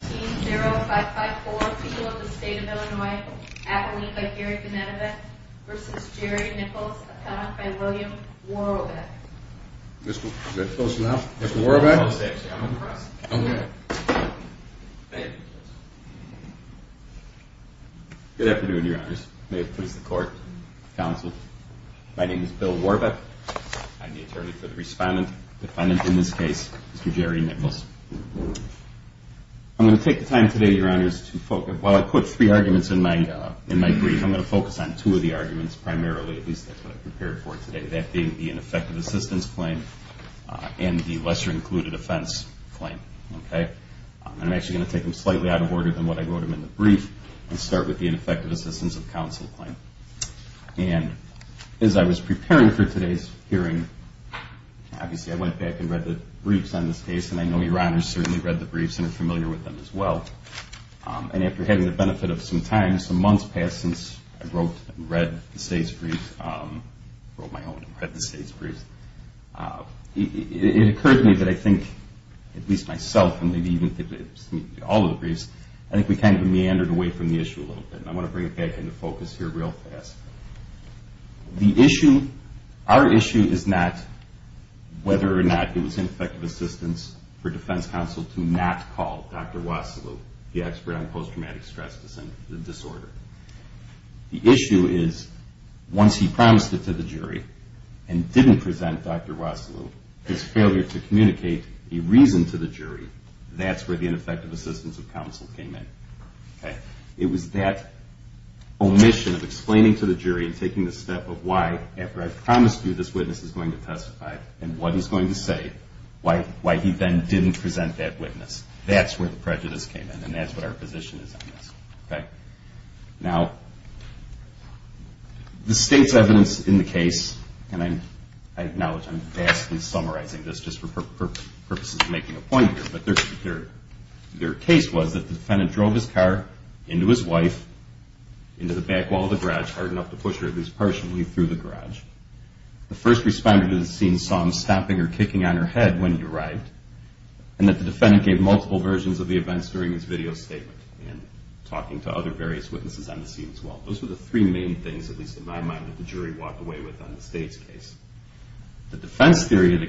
15 0554 people of the state of Illinois, Abilene by Gary Bonetovic v. Jerry Nichols, appointed by William Worobet. Mr. Worobet. Good afternoon, your honors. May it please the court, counsel. My name is Bill Worobet. I'm the attorney for the respondent, defendant in this case, Mr. Jerry Nichols. I'm going to take the time today, your honors, while I put three arguments in my brief, I'm going to focus on two of the arguments primarily, at least that's what I prepared for today, that being the ineffective assistance claim and the lesser included offense claim. I'm actually going to take them slightly out of order than what I wrote them in the brief and start with the ineffective assistance of counsel claim. As I was preparing for today's Obviously, I went back and read the briefs on this case and I know your honors certainly read the briefs and are familiar with them as well. And after having the benefit of some time, some months past since I wrote and read the state's briefs, wrote my own and read the state's briefs, it occurred to me that I think, at least myself and maybe even all of the briefs, I think we kind of meandered away from the issue a little bit and I want to bring it back into focus here real fast. The issue, our issue is not whether or not it was ineffective assistance for defense counsel to not call Dr. Wasilu, the expert on post-traumatic stress disorder. The issue is once he promised it to the jury and didn't present Dr. Wasilu, his failure to communicate a reason to the jury, that's where the ineffective assistance of counsel came in. It was that omission of explaining to the jury and taking the step of why, after I promised you this witness is going to testify and what he's going to say, why he then didn't present that witness. That's where the prejudice came in and that's what our position is on this. Now, the state's evidence in the case, and I acknowledge I'm vastly summarizing this just for purposes of making a point here, but their case was that the defendant drove his car into his wife, into the back wall of the garage hard enough to push her at least partially through the garage. The first responder to the scene saw him stomping or kicking on her head when he arrived and that the defendant gave multiple versions of the events during his video statement and talking to other various witnesses on the scene as well. Those were the three main things, at least in my mind, that the jury walked away with on the state's case. The defendant did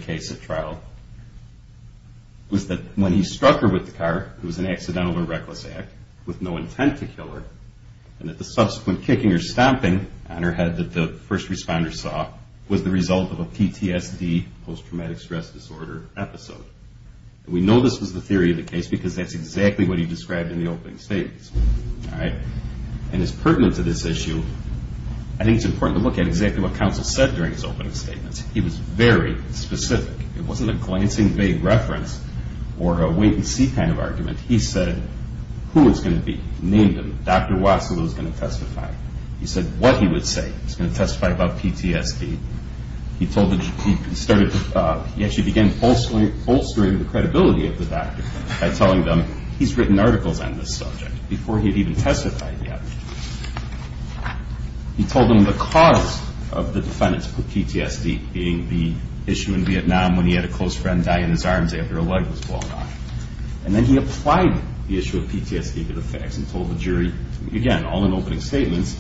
an accidental or reckless act with no intent to kill her and that the subsequent kicking or stomping on her head that the first responder saw was the result of a PTSD, post-traumatic stress disorder, episode. We know this was the theory of the case because that's exactly what he described in the opening statements. And as pertinent to this issue, I think it's important to look at exactly what counsel said during his opening statements. He was very specific. It wasn't a glancing vague reference or a wait and see kind of thing. He said who it was going to be. He named him. Dr. Wassilou was going to testify. He said what he would say. He was going to testify about PTSD. He actually began bolstering the credibility of the doctor by telling them he's written articles on this subject before he had even testified yet. He told them the cause of the defendant's PTSD being the issue in Vietnam when he had a close friend die in his arms after a leg was blown off. And then he applied the issue of PTSD to the facts and told the jury, again, all in opening statements,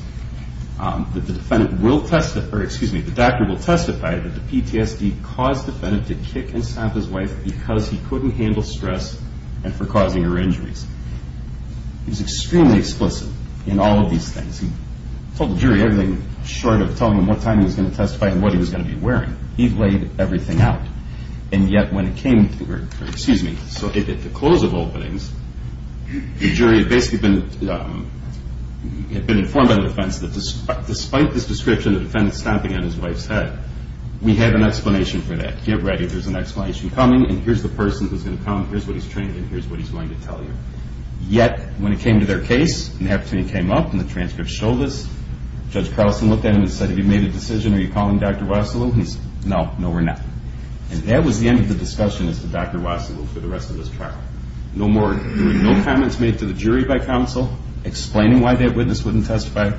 that the doctor will testify that the PTSD caused the defendant to kick and stomp his wife because he couldn't handle stress and for causing her injuries. He was extremely explicit in all of these things. He told the jury everything short of telling them what time he was going to testify and what he was going to be wearing. He laid everything out. And yet when it came, excuse me, at the close of openings, the jury had basically been informed by the defense that despite this description, the defendant stomping on his wife's head, we have an explanation for that. Get ready. There's an explanation coming and here's the person who's going to come. Here's what he's trained in. Here's what he's going to tell you. Yet when it came to their case and the opportunity came up and the transcript showed us, Judge Carlson looked at him and said, have you made a decision? Are you calling Dr. Wassilou? He said, no, no we're not. And that was the end of the discussion as to Dr. Wassilou for the rest of this trial. No more, there were no comments made to the jury by counsel explaining why that witness wouldn't testify.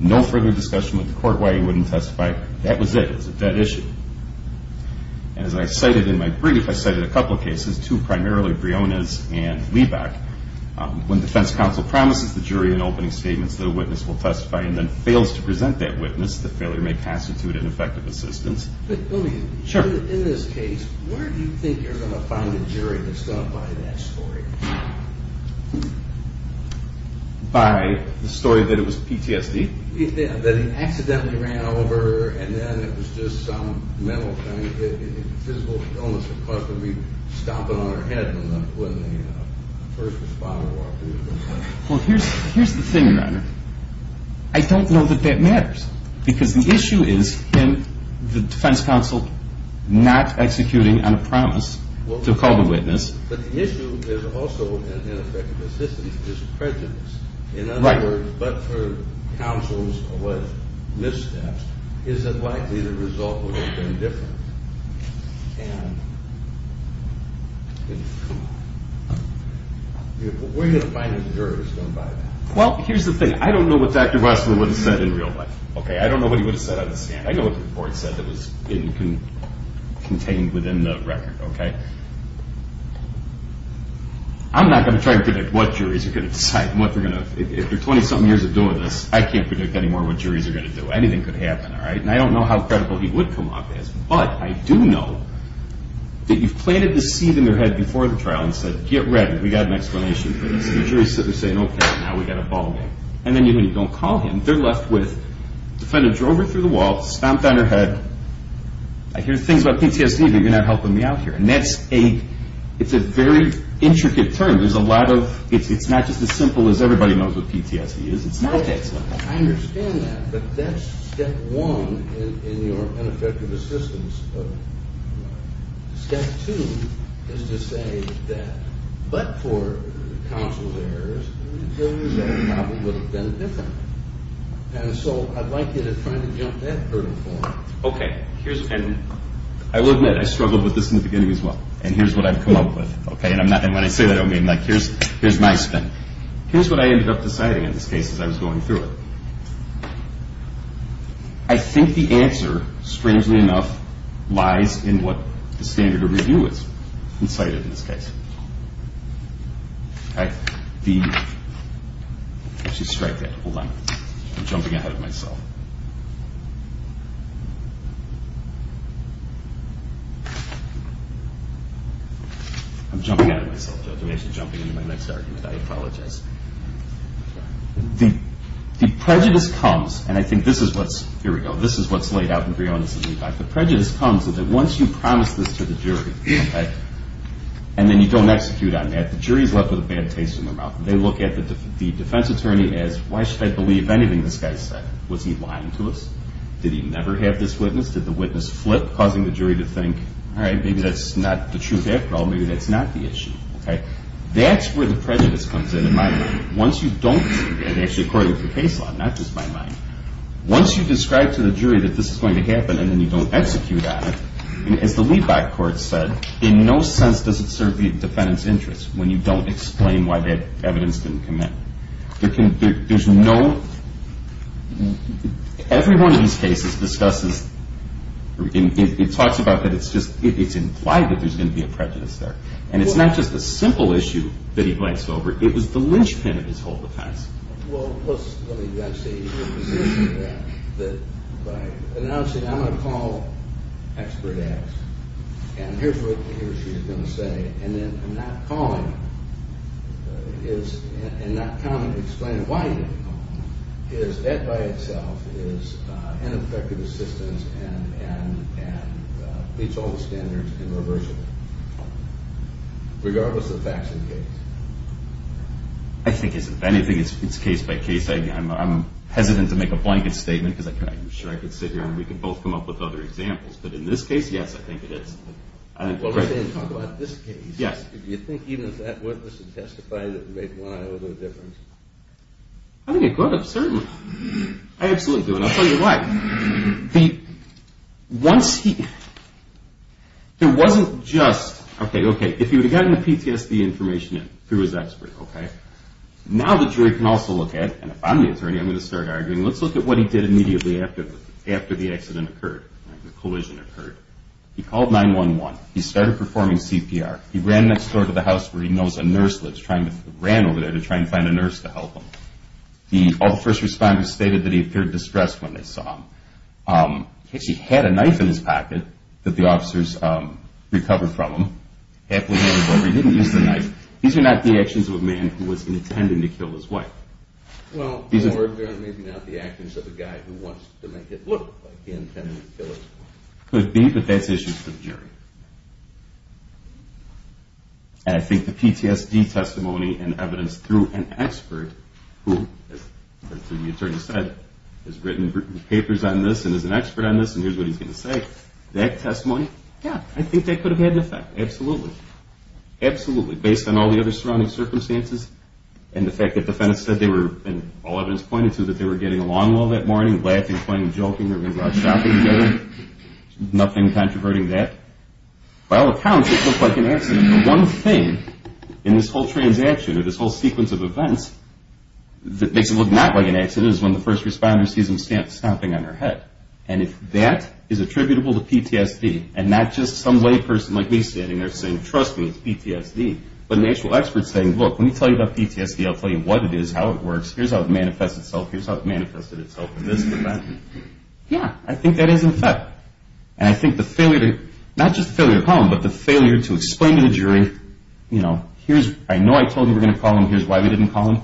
No further discussion with the court why he wouldn't testify. That was it. It was a dead issue. And as I cited in my brief, I cited a couple of cases, two primarily Briones and Wiebach. When defense counsel promises the jury in opening statements that a witness will testify and then fails to present that witness, the failure may constitute an effect of assistance. In this case, where do you think you're going to find a jury that's going to buy that story? Buy the story that it was PTSD? That he accidentally ran over and then it was just some mental kind of physical illness that caused him to be stomping on her head when the first responder walked in. Well, here's the thing, Your Honor. I don't know that that matters. Because the issue is him, the defense counsel, not executing on a promise to call the witness. But the issue is also an effect of assistance. This is prejudice. In other words, but for counsel's alleged missteps, is it likely the result would have been different? And where are you going to find a jury that's going to buy that? Well, here's the thing. I don't know what Dr. Westman would have said in real life. I don't know what he would have said on the stand. I know what the court said that was contained within the record. I'm not going to try and predict what juries are going to decide. If they're 20-something years of doing this, I can't predict anymore what juries are going to happen, all right? And I don't know how credible he would come off as. But I do know that you've planted the seed in their head before the trial and said, get ready. We've got an explanation for this. And the jury's sitting there saying, okay, now we've got a ballgame. And then when you don't call him, they're left with defendant drove her through the wall, stomped on her head. I hear things about PTSD, but you're not helping me out here. And that's a – it's a very intricate term. There's a lot of – it's not just as simple as everybody knows what PTSD is. It's not that simple. I understand that. But that's step one in your ineffective assistance. Step two is to say that, but for counsel's errors, those probably would have been different. And so I'd like you to try to jump that hurdle for me. Okay. Here's – and I will admit I struggled with this in the beginning as well. And here's what I've come up with, okay? And when I say that, I don't mean like, here's my spin. Here's what I ended up deciding in this case as I was going through it. I think the answer, strangely enough, lies in what the standard of review is, incited in this case, okay? The – actually, strike that. Hold on. I'm jumping ahead of myself. I'm jumping ahead of myself. I'm actually jumping into my next argument. I apologize. The prejudice comes – and I think this is what's – here we go. This is what's laid out in Brionis' leadback. The prejudice comes that once you promise this to the jury, okay, and then you don't execute on that, the jury's left with a bad taste in their mouth. They look at the defense attorney as, why should I believe anything this guy said? Was he lying to us? Did he never have this witness? Did the witness flip, causing the jury to think, all right, maybe that's not the truth after all. Maybe that's not the issue, okay? That's where the prejudice comes in, in my mind. Once you don't – and actually, according to the case law, not just my mind. Once you describe to the jury that this is going to happen and then you don't execute on it, as the leadback court said, in no sense does it serve the defendant's interest when you don't explain why that evidence didn't come in. There's no – every one of these cases discusses – it talks about that it's implied that there's going to be a prejudice there. And it's not just a simple issue that he blanks over. It was the linchpin of his whole defense. Well, let me just say that by announcing, I'm going to call expert X, and here's what he or she is going to say, and then not calling is – and not coming to explain why you didn't call is that by itself is ineffective assistance and meets all the standards and reversible, regardless of facts and case. I think it's – if anything, it's case by case. I'm hesitant to make a blanket statement because I'm sure I could sit here and we could both come up with other examples, but in this case, yes, I think it is. Well, we're saying talk about this case. Yes. Do you think even if that witness had testified, it would make one or the other a difference? I think it could have, certainly. I absolutely do, and I'll tell you why. Once he – it wasn't just – okay, okay, if he would have gotten the PTSD information through his expert, okay, now the jury can also look at – and if I'm the attorney, I'm going to start arguing – let's look at what he did immediately after the accident occurred, the collision occurred. He called 911. He started performing CPR. He ran next door to the house where he knows a nurse lives, ran over there to try and find a nurse to help him. The – all the first responders stated that he appeared distressed when they saw him. He actually had a knife in his pocket that the officers recovered from him. Happily, however, he didn't use the knife. These are not the actions of a man who was intending to kill his wife. Well, in other words, they're not the actions of a guy who wants to make it look like he intended to kill his wife. Could be, but that's issues for the jury. And I think the PTSD testimony and evidence through an expert who, as the attorney said, has written papers on this and is an expert on this and here's what he's going to say, that testimony, yeah, I think that could have had an effect. Absolutely. Absolutely. Based on all the other surrounding circumstances and the fact that the defense said they were – and all evidence pointed to that they were getting along well that morning, laughing, playing, joking, shopping together, nothing controverting that. By all accounts, it looked like an accident. The one thing in this whole transaction or this whole sequence of events that makes it look not like an accident is when the first responder sees him snapping on her head. And if that is attributable to PTSD and not just some layperson like me standing there saying, trust me, it's PTSD, but an actual expert saying, look, let me tell you about PTSD, I'll tell you what it is, how it works, here's how it manifests itself, here's how it manifested itself in this event, yeah, I think that has an effect. And I think the failure to – not just the failure to call him, but the failure to explain to the jury, you know, here's – I know I told you we're going to call him, here's why we didn't call him,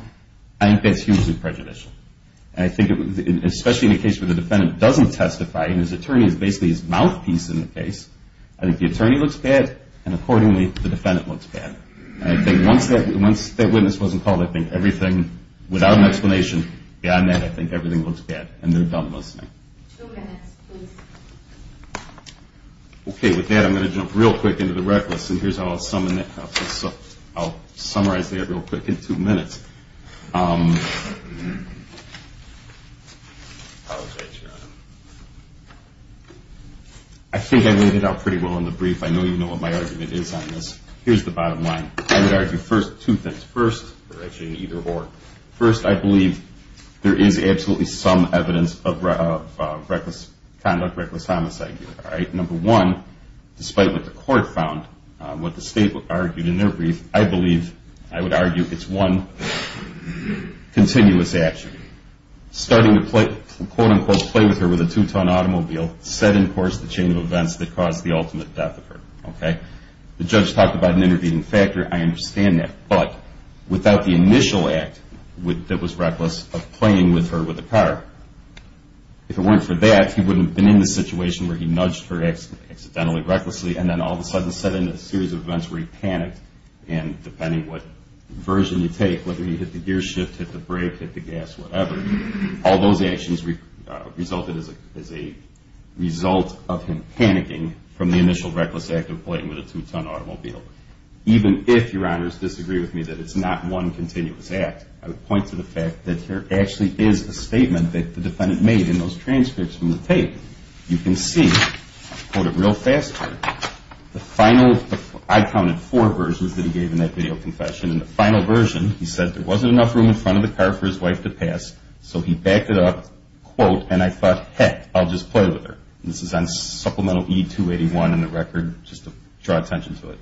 I think that's hugely prejudicial. And I think especially in a case where the defendant doesn't testify and his attorney is basically his mouthpiece in the case, I think the attorney looks bad and accordingly the defendant looks bad. And I think once that witness wasn't called, I think everything, without an explanation, beyond that I think everything looks bad and they're done listening. Two minutes, please. Okay, with that I'm going to jump real quick into the reckless, and here's how I'll summarize that real quick in two minutes. I think I laid it out pretty well in the brief. I know you know what my argument is on this. Here's the bottom line. I would argue first two things. First, or actually either or, first I believe there is absolutely some evidence of reckless conduct, reckless homicide. All right? Number one, despite what the court found, what the state argued in their brief, I believe, I would argue it's one continuous action. Starting to quote-unquote play with her with a two-ton automobile set in course the chain of events that caused the ultimate death of her. Okay? The judge talked about an intervening factor, I understand that. But without the initial act that was reckless of playing with her with a car, if it weren't for that he wouldn't have been in the situation where he nudged her accidentally, recklessly, and then all of a sudden set in a series of events where he panicked, and depending what version you take, whether he hit the gear shift, hit the brake, hit the gas, whatever, all those actions resulted as a result of him panicking from the initial reckless act of playing with a two-ton automobile. Even if, your honors, disagree with me that it's not one continuous act, I would point to the fact that there actually is a statement that the defendant made in those transcripts from the tape. You can see, I'll quote it real fast here, the final, I counted four versions that he gave in that video confession, and the final version he said there wasn't enough room in front of the car for his wife to pass, so he backed it up, quote, and I thought, heck, I'll just play with her. This is on supplemental E-281 in the record, just to draw attention to it.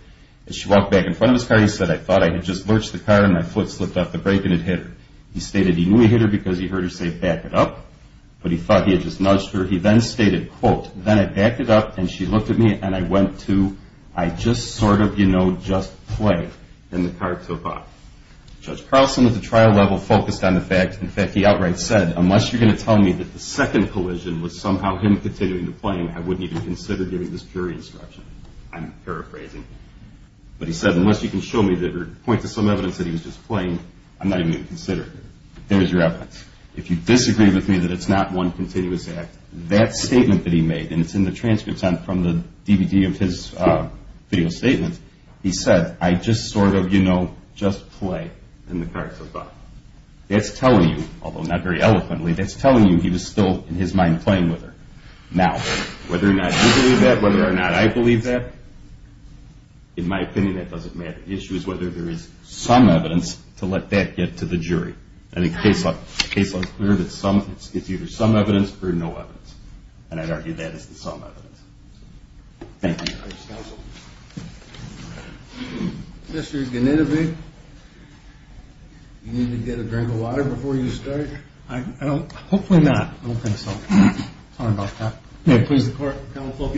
As she walked back in front of his car, he said, I thought I had just lurched the car, and my foot slipped off the brake, and it hit her. He stated he knew he hit her because he heard her say, back it up, but he thought he had just nudged her. He then stated, quote, then I backed it up, and she looked at me, and I went to, I just sort of, you know, just played, and the car took off. Judge Carlson at the trial level focused on the fact, in fact, he outright said, unless you're going to tell me that the second collision was somehow him continuing to play, I wouldn't even consider giving this jury instruction. I'm paraphrasing. But he said, unless you can show me or point to some evidence that he was just playing, I'm not even going to consider it. Here is your evidence. If you disagree with me that it's not one continuous act, that statement that he made, and it's in the transcripts from the DVD of his video statements, he said, I just sort of, you know, just play, and the car took off. That's telling you, although not very eloquently, that's telling you he was still in his mind playing with her. Now, whether or not you believe that, whether or not I believe that, in my opinion that doesn't matter. The issue is whether there is some evidence to let that get to the jury. I think the case law is clear that it's either some evidence or no evidence, and I'd argue that it's the some evidence. Thank you. Thank you, counsel. Mr. Ganitovi, you need to get a drink of water before you start. Hopefully not. I don't think so. Sorry about that. May it please the court, counsel.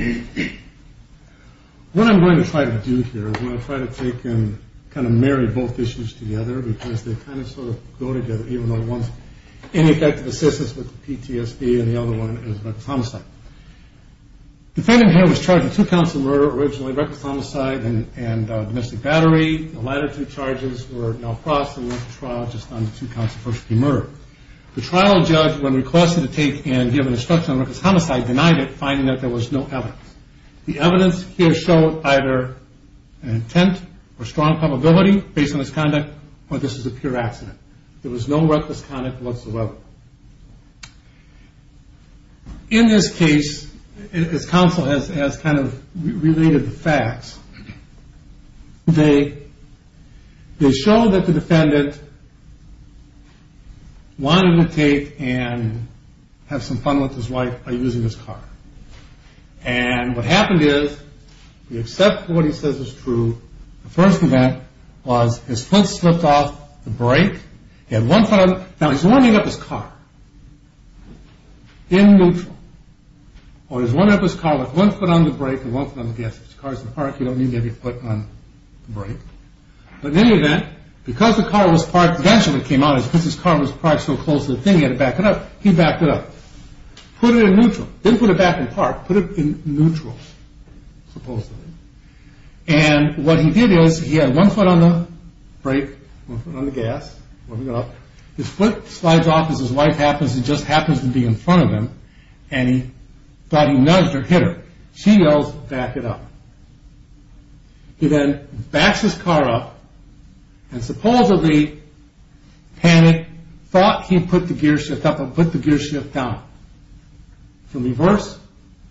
What I'm going to try to do here is I'm going to try to take and kind of marry both issues together because they kind of sort of go together, even though one's ineffective assistance with PTSD and the other one is reckless homicide. The defendant here was charged with two counts of murder originally, reckless homicide and domestic battery. The latter two charges were now processed and went to trial just on the two counts of first degree murder. The trial judge, when requested to take and give an instruction on reckless homicide, denied it, finding that there was no evidence. The evidence here showed either an intent or strong probability based on his conduct or this is a pure accident. There was no reckless conduct whatsoever. In this case, as counsel has kind of related the facts, they show that the defendant wanted to take and have some fun with his wife by using his car. And what happened is we accept what he says is true. The first event was his foot slipped off the brake. He had one foot on the brake. Now, he's winding up his car in neutral, or he's winding up his car with one foot on the brake and one foot on the gas. If your car is in park, you don't need to have your foot on the brake. But in any event, because the car was parked, the reason it came out is because his car was parked so close to the thing, he had to back it up. He backed it up. Put it in neutral. Didn't put it back in park. Put it in neutral, supposedly. And what he did is he had one foot on the brake, one foot on the gas, winding up. His foot slides off as his wife happens to just happen to be in front of him and he thought he nudged or hit her. She yells, back it up. He then backs his car up and supposedly, panicked, thought he put the gear shift up and put the gear shift down. From reverse,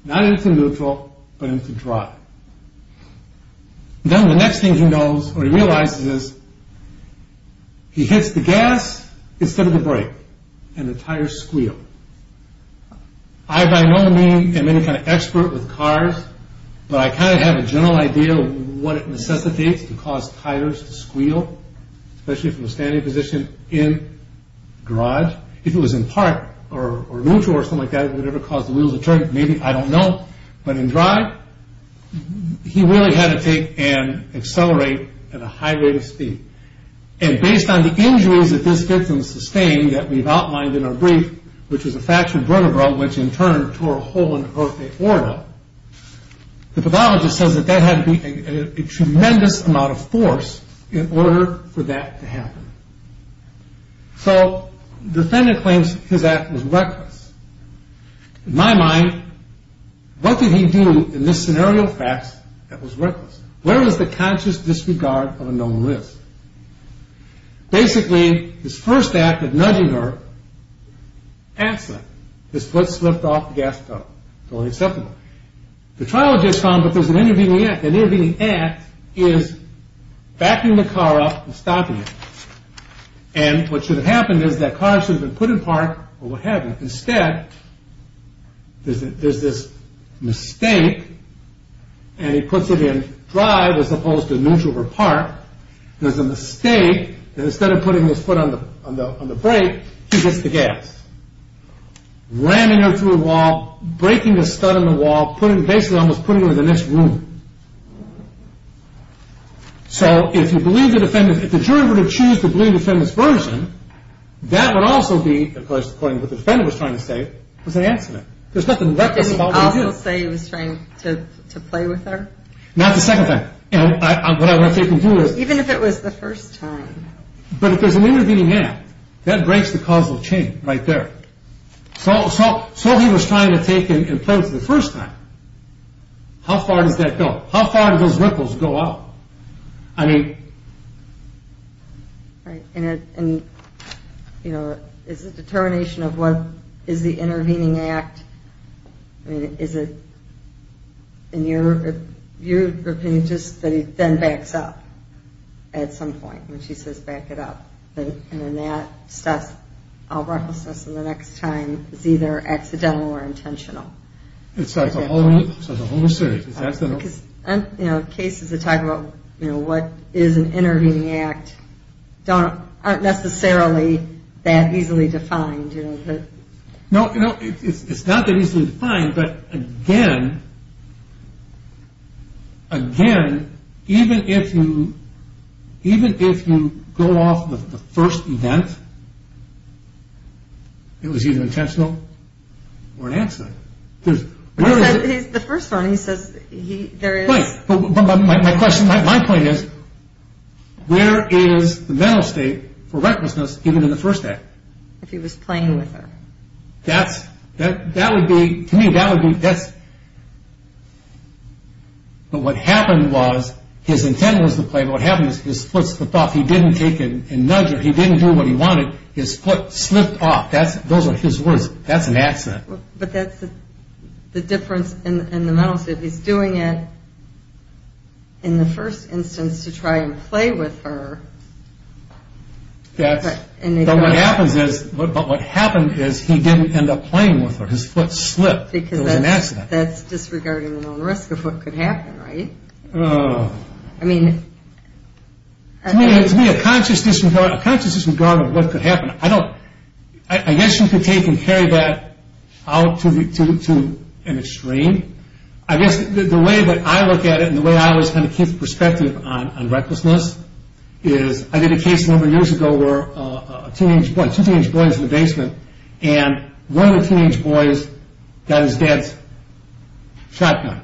not into neutral, but into drive. Then the next thing he knows or he realizes is he hits the gas instead of the brake and the tires squeal. I, by no means, am any kind of expert with cars, but I kind of have a general idea of what it necessitates to cause tires to squeal, especially from a standing position in drive. If it was in park or neutral or something like that, it would never cause the wheels to turn. Maybe, I don't know. But in drive, he really had to take and accelerate at a high rate of speed. And based on the injuries that this victim sustained that we've outlined in our brief, which was a fractured vertebra, which in turn tore a hole in her aorta, the pathologist says that that had to be a tremendous amount of force in order for that to happen. So the defendant claims his act was reckless. In my mind, what did he do in this scenario of facts that was reckless? Where is the conscious disregard of a known risk? Basically, his first act of nudging her, accident, his foot slipped off the gas pedal. Totally acceptable. The trial had just gone, but there's an intervening act. The intervening act is backing the car up and stopping it. And what should have happened is that car should have been put in park or what have you. Instead, there's this mistake, and he puts it in drive as opposed to neutral or park. There's a mistake that instead of putting his foot on the brake, he hits the gas. Ramming her through a wall, breaking the stud in the wall, basically almost putting her in the next room. So if the jury were to choose to believe the defendant's version, that would also be, of course, according to what the defendant was trying to say, was an accident. There's nothing reckless about what he did. Did he also say he was trying to play with her? Not the second thing. Even if it was the first time. But if there's an intervening act, that breaks the causal chain right there. So he was trying to take and play with her the first time. How far does that go? How far do those ripples go out? I mean... And, you know, is it determination of what is the intervening act? I mean, is it, in your opinion, just that he then backs up at some point when she says back it up? And then that stops all recklessness and the next time is either accidental or intentional. It's like a whole new series. Because, you know, cases that talk about, you know, what is an intervening act aren't necessarily that easily defined. No, you know, it's not that easily defined. But, again, again, even if you go off the first event, it was either intentional or an accident. The first one, he says there is... Right, but my question, my point is, where is the mental state for recklessness even in the first act? If he was playing with her. That would be, to me, that would be... But what happened was his intent was to play, but what happened is his foot slipped off. He didn't take and nudge her. He didn't do what he wanted. His foot slipped off. Those are his words. That's an accident. But that's the difference in the mental state. He's doing it in the first instance to try and play with her. But what happened is he didn't end up playing with her. His foot slipped. It was an accident. That's disregarding the risk of what could happen, right? To me, a conscious disregard of what could happen, I guess you could take and carry that out to an extreme. I guess the way that I look at it and the way I always kind of keep perspective on recklessness is I did a case a number of years ago where two teenage boys in the basement and one of the teenage boys got his dad's shotgun,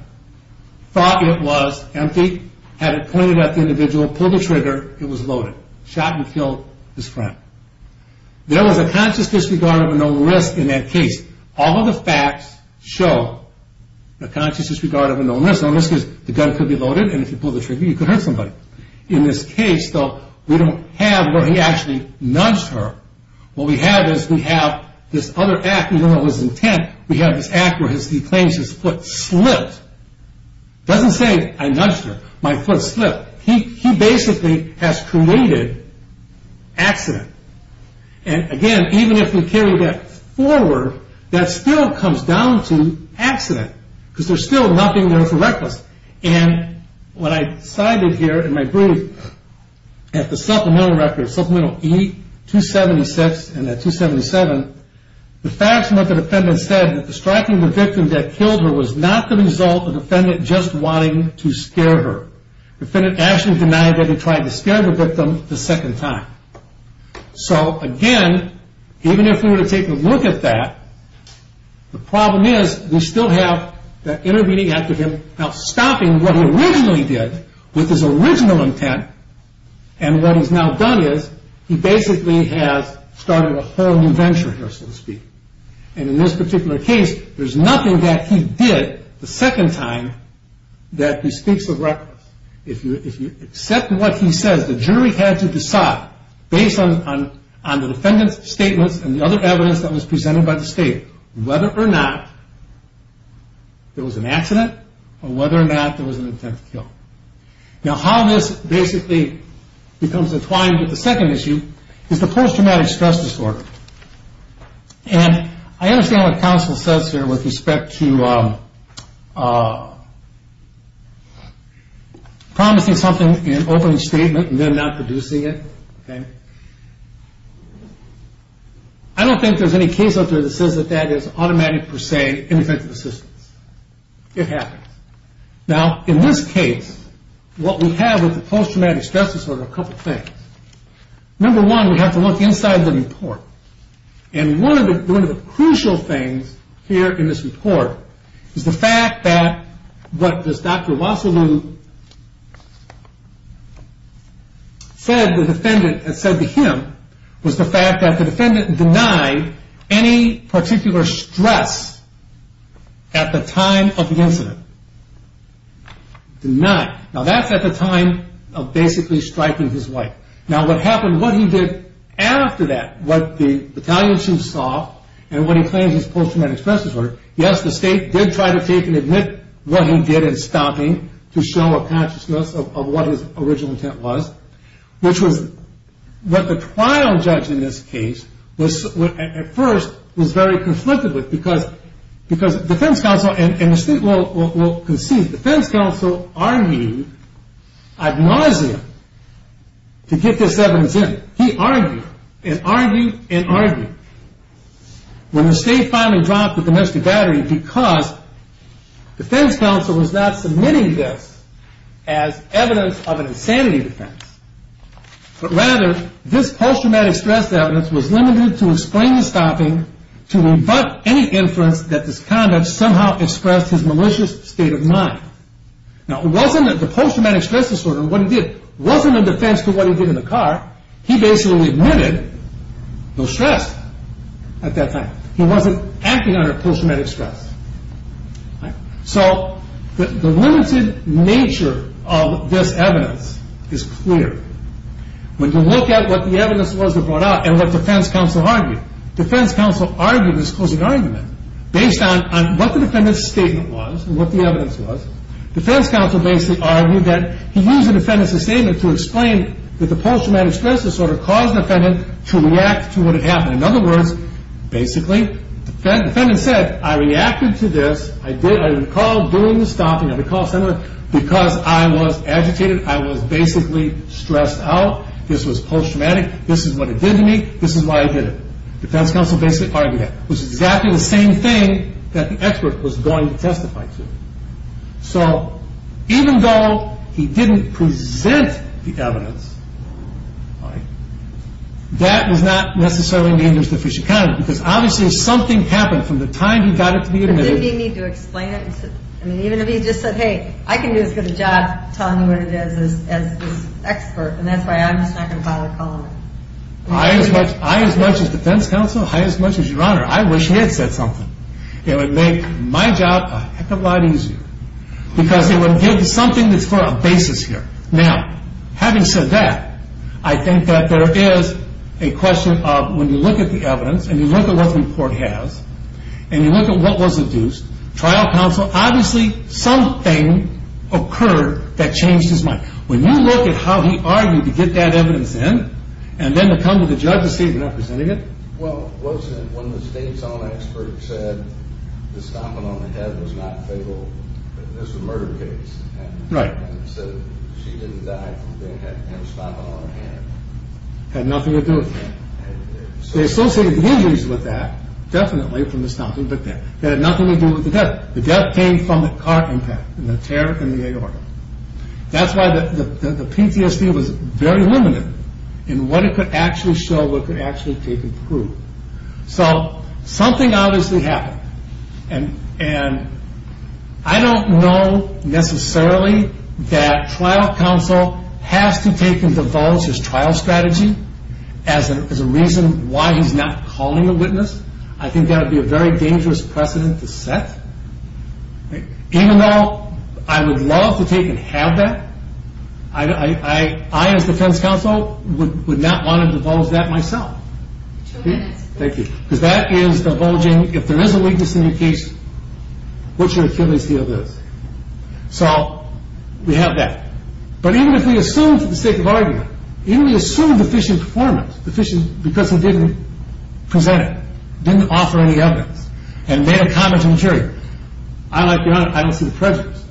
thought it was empty, had it pointed at the individual, pulled the trigger, it was loaded. Shot and killed his friend. There was a conscious disregard of a known risk in that case. All of the facts show a conscious disregard of a known risk. Known risk is the gun could be loaded, and if you pulled the trigger, you could hurt somebody. In this case, though, we don't have where he actually nudged her. What we have is we have this other act, even though it was intent, we have this act where he claims his foot slipped. It doesn't say, I nudged her. My foot slipped. He basically has created accident. And again, even if we carry that forward, that still comes down to accident because there's still nothing there for reckless. And what I cited here in my brief, at the supplemental record, supplemental E276 and at 277, the facts of what the defendant said, that the striking of the victim that killed her was not the result of the defendant just wanting to scare her. The defendant actually denied that he tried to scare the victim the second time. So again, even if we were to take a look at that, the problem is we still have that intervening act of him now stopping what he originally did with his original intent, and what he's now done is he basically has started a whole new venture here, so to speak. And in this particular case, there's nothing that he did the second time that bespeaks of reckless. If you accept what he says, the jury had to decide based on the defendant's statements and the other evidence that was presented by the state whether or not there was an accident or whether or not there was an intent to kill. Now how this basically becomes entwined with the second issue is the post-traumatic stress disorder. And I understand what counsel says here with respect to promising something in an opening statement and then not producing it. I don't think there's any case out there that says that that is automatic per se in defense of assistance. It happens. Now in this case, what we have with the post-traumatic stress disorder are a couple of things. Number one, we have to look inside the report. And one of the crucial things here in this report is the fact that what this Dr. Wassilou said, the defendant had said to him, was the fact that the defendant denied any particular stress at the time of the incident. Denied. Now that's at the time of basically striking his wife. Now what happened, what he did after that, what the battalion chief saw and what he claims is post-traumatic stress disorder, yes, the state did try to take and admit what he did in stopping to show a consciousness of what his original intent was, which was what the trial judge in this case at first was very conflicted with because defense counsel, and the state will concede, defense counsel argued ad nauseam to get this evidence in. He argued and argued and argued. When the state finally dropped the domestic battery because defense counsel was not submitting this as evidence of an insanity defense, but rather this post-traumatic stress evidence was limited to explain the stopping to rebut any inference that this conduct somehow expressed his malicious state of mind. Now it wasn't that the post-traumatic stress disorder, what he did wasn't in defense to what he did in the car. He basically admitted no stress at that time. He wasn't acting under post-traumatic stress. So the limited nature of this evidence is clear. When you look at what the evidence was that was brought out and what defense counsel argued, defense counsel argued this closing argument based on what the defendant's statement was and what the evidence was. Defense counsel basically argued that he used the defendant's statement to explain that the post-traumatic stress disorder caused the defendant to react to what had happened. In other words, basically, the defendant said, I reacted to this, I recall doing the stopping, I recall, Senator, because I was agitated, I was basically stressed out, this was post-traumatic, this is what it did to me, this is why I did it. Defense counsel basically argued that. It was exactly the same thing that the expert was going to testify to. So even though he didn't present the evidence, that was not necessarily in the interest of Fisher County because obviously something happened from the time he got it to be admitted. But didn't he need to explain it? I mean, even if he just said, hey, I can do as good a job telling you what it is as this expert, and that's why I'm just not going to bother calling it. I as much as defense counsel, I as much as your honor, I wish he had said something. It would make my job a heck of a lot easier because it would give something that's for a basis here. Now, having said that, I think that there is a question of when you look at the evidence and you look at what the report has and you look at what was adduced, trial counsel, obviously something occurred that changed his mind. When you look at how he argued to get that evidence in and then to come to the judge to see if he represented it. Well, wasn't it when the state's own expert said the stomping on the head was not fatal? This was a murder case. Right. And so she didn't die from having him stomping on her head. Had nothing to do with that. They associated the injuries with that, definitely from the stomping, but it had nothing to do with the death. The death came from the car impact and the tear in the aorta. That's why the PTSD was very limited in what it could actually show, what it could actually take and prove. So something obviously happened. And I don't know necessarily that trial counsel has to take and divulge his trial strategy as a reason why he's not calling a witness. I think that would be a very dangerous precedent to set. Even though I would love to take and have that, I, as defense counsel, would not want to divulge that myself. Thank you. Because that is divulging, if there is a weakness in your case, what's your accuracy of this? So we have that. But even if we assume for the sake of argument, even if we assume deficient performance, deficient because he didn't present it, didn't offer any evidence, and made a comment to the jury, I, like your Honor, I don't see the prejudice.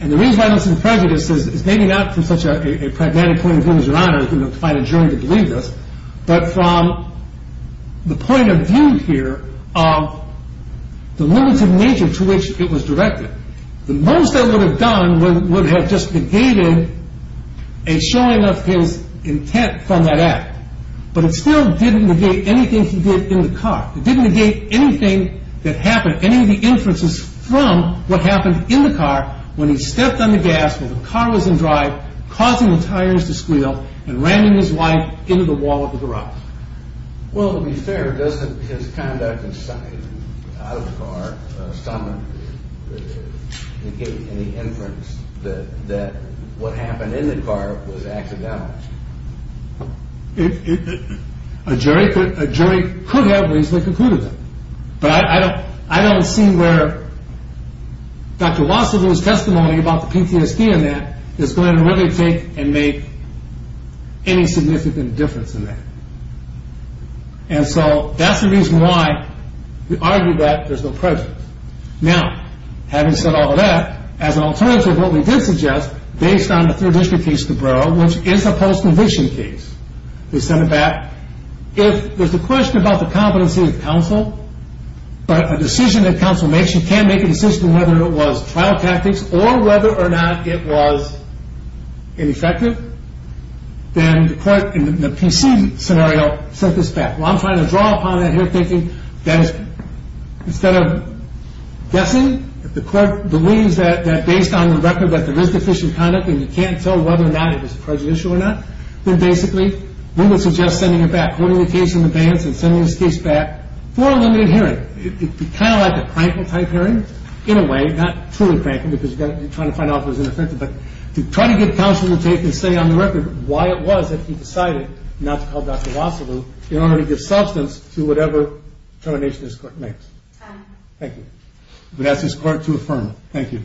And the reason I don't see the prejudice is maybe not from such a pragmatic point of view, as your Honor, to find a jury to believe this, but from the point of view here of the limited nature to which it was directed. The most that would have done would have just negated a showing of his intent from that act. But it still didn't negate anything he did in the car. It didn't negate anything that happened, it didn't negate any of the inferences from what happened in the car when he stepped on the gas, when the car was in drive, causing the tires to squeal, and ramming his wife into the wall of the garage. Well, to be fair, doesn't his conduct in sight, out of the car, somehow negate any inference that what happened in the car was accidental? A jury could have reasonably concluded that. But I don't see where Dr. Wasserloo's testimony about the PTSD in that is going to really take and make any significant difference in that. And so that's the reason why we argue that there's no prejudice. Now, having said all of that, as an alternative, what we did suggest, based on the third district case in the borough, which is a post-conviction case, they sent it back. If there's a question about the competency of counsel, but a decision that counsel makes, you can't make a decision whether it was trial tactics or whether or not it was ineffective, then the court, in the PC scenario, sent this back. Well, I'm trying to draw upon that here, thinking that instead of guessing, if the court believes that based on the record that there is deficient conduct and you can't tell whether or not it was prejudicial or not, then basically we would suggest sending it back, holding the case in advance and sending this case back for a limited hearing. It would be kind of like a crankle-type hearing, in a way, not truly crankle because you're trying to find out if it was ineffective, but to try to get counsel to take and say on the record why it was that he decided not to call Dr. Wasserloo in order to give substance to whatever termination this court makes. Thank you. I'm going to ask this court to affirm. Thank you.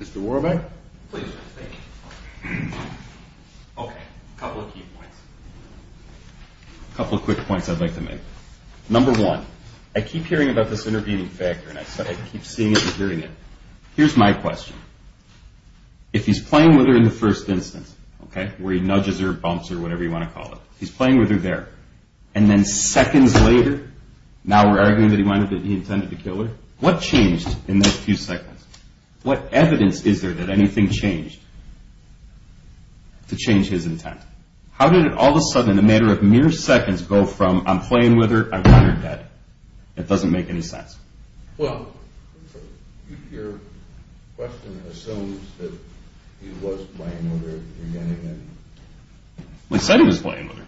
Mr. Warbeck? Please. Thank you. Okay. A couple of key points. A couple of quick points I'd like to make. Number one, I keep hearing about this intervening factor, and I keep seeing it and hearing it. Here's my question. If he's playing with her in the first instance, okay, where he nudges her, bumps her, whatever you want to call it, he's playing with her there, and then seconds later, now we're arguing that he intended to kill her. What changed in those few seconds? What evidence is there that anything changed to change his intent? How did it all of a sudden, in a matter of mere seconds, go from, I'm playing with her, I've got her dead? It doesn't make any sense. Well, your question assumes that he was playing with her. He said he was playing with her.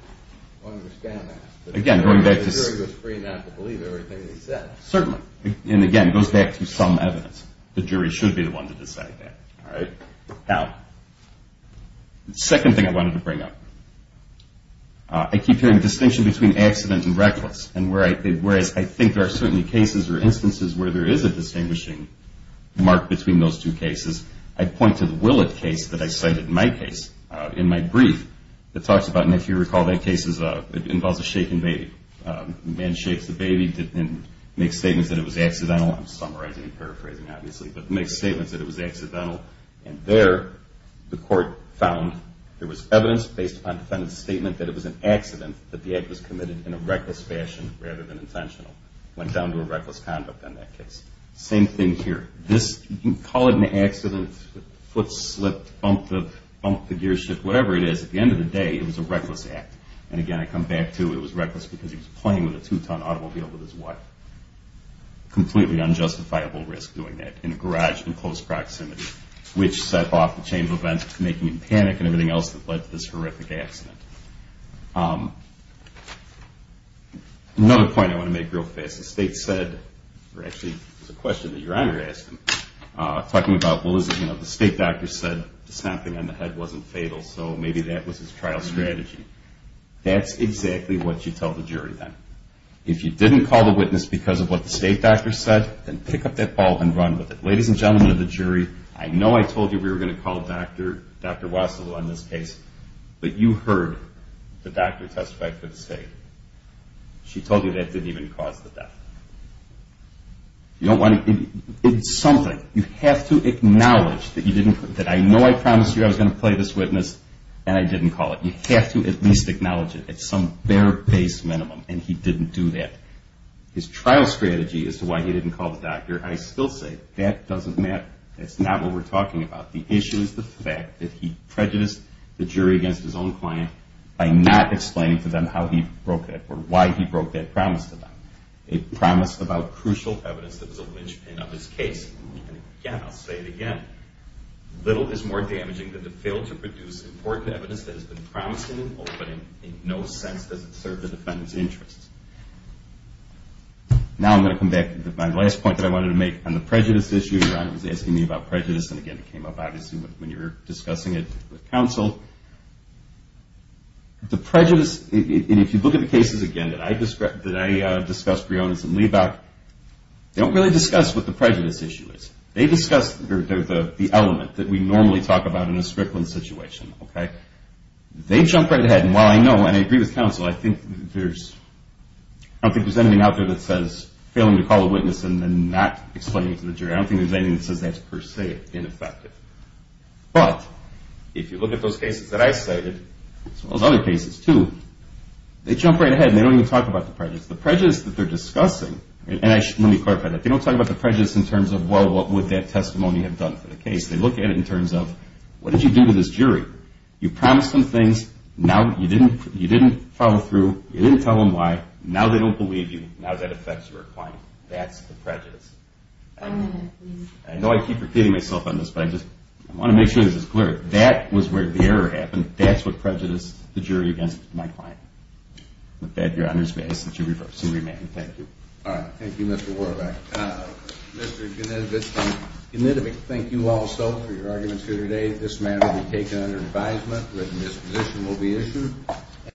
I understand that. The jury was free not to believe everything he said. Certainly. And, again, it goes back to some evidence. The jury should be the one to decide that. All right? Now, the second thing I wanted to bring up. I keep hearing distinction between accident and reckless, and whereas I think there are certainly cases or instances where there is a distinguishing mark between those two cases, I point to the Willett case that I cited in my brief that talks about, if you recall that case, it involves a shaken baby. The man shakes the baby and makes statements that it was accidental. I'm summarizing and paraphrasing, obviously, but makes statements that it was accidental. And there the court found there was evidence based upon defendant's statement that it was an accident, that the act was committed in a reckless fashion rather than intentional. It went down to a reckless conduct in that case. Same thing here. You can call it an accident, foot slipped, bump the gear shift, whatever it is. At the end of the day, it was a reckless act. And, again, I come back to it was reckless because he was playing with a two-ton automobile with his wife. Completely unjustifiable risk doing that in a garage in close proximity, which set off the chain of events making him panic and everything else that led to this horrific accident. Another point I want to make real fast. The state said, or actually it was a question that your Honor asked him, talking about, well, the state doctor said the snapping on the head wasn't fatal, so maybe that was his trial strategy. That's exactly what you tell the jury then. If you didn't call the witness because of what the state doctor said, then pick up that ball and run with it. Ladies and gentlemen of the jury, I know I told you we were going to call Dr. Wassilou on this case, but you heard the doctor testify for the state. She told you that didn't even cause the death. It's something. You have to acknowledge that I know I promised you I was going to play this witness and I didn't call it. You have to at least acknowledge it at some bare base minimum, and he didn't do that. His trial strategy as to why he didn't call the doctor, I still say that doesn't matter. That's not what we're talking about. The issue is the fact that he prejudiced the jury against his own client by not explaining to them how he broke that promise to them, a promise about crucial evidence that was a linchpin of his case. Again, I'll say it again. Little is more damaging than to fail to produce important evidence that has been promised in an opening. In no sense does it serve the defendant's interests. Now I'm going to come back to my last point that I wanted to make on the prejudice issue. Ron was asking me about prejudice, and again, it came up obviously when you were discussing it with counsel. The prejudice, and if you look at the cases, again, that I discussed, Breonis and Liebach, they don't really discuss what the prejudice issue is. They discuss the element that we normally talk about in a strickland situation. They jump right ahead, and while I know and I agree with counsel, I don't think there's anything out there that says failing to call a witness and then not explaining to the jury. I don't think there's anything that says that's per se ineffective. But if you look at those cases that I cited, as well as other cases too, they jump right ahead, and they don't even talk about the prejudice. The prejudice that they're discussing, and let me clarify that, they don't talk about the prejudice in terms of, well, what would that testimony have done for the case. They look at it in terms of, what did you do to this jury? You promised them things. Now you didn't follow through. You didn't tell them why. Now that affects your client. That's the prejudice. I know I keep repeating myself on this, but I just want to make sure this is clear. That was where the error happened. That's what prejudiced the jury against my client. With that, your Honor's base, that you reverse and remand. Thank you. All right. Thank you, Mr. Warbeck. Mr. Knitovich, thank you also for your arguments here today. This matter will be taken under advisement. Written disposition will be issued.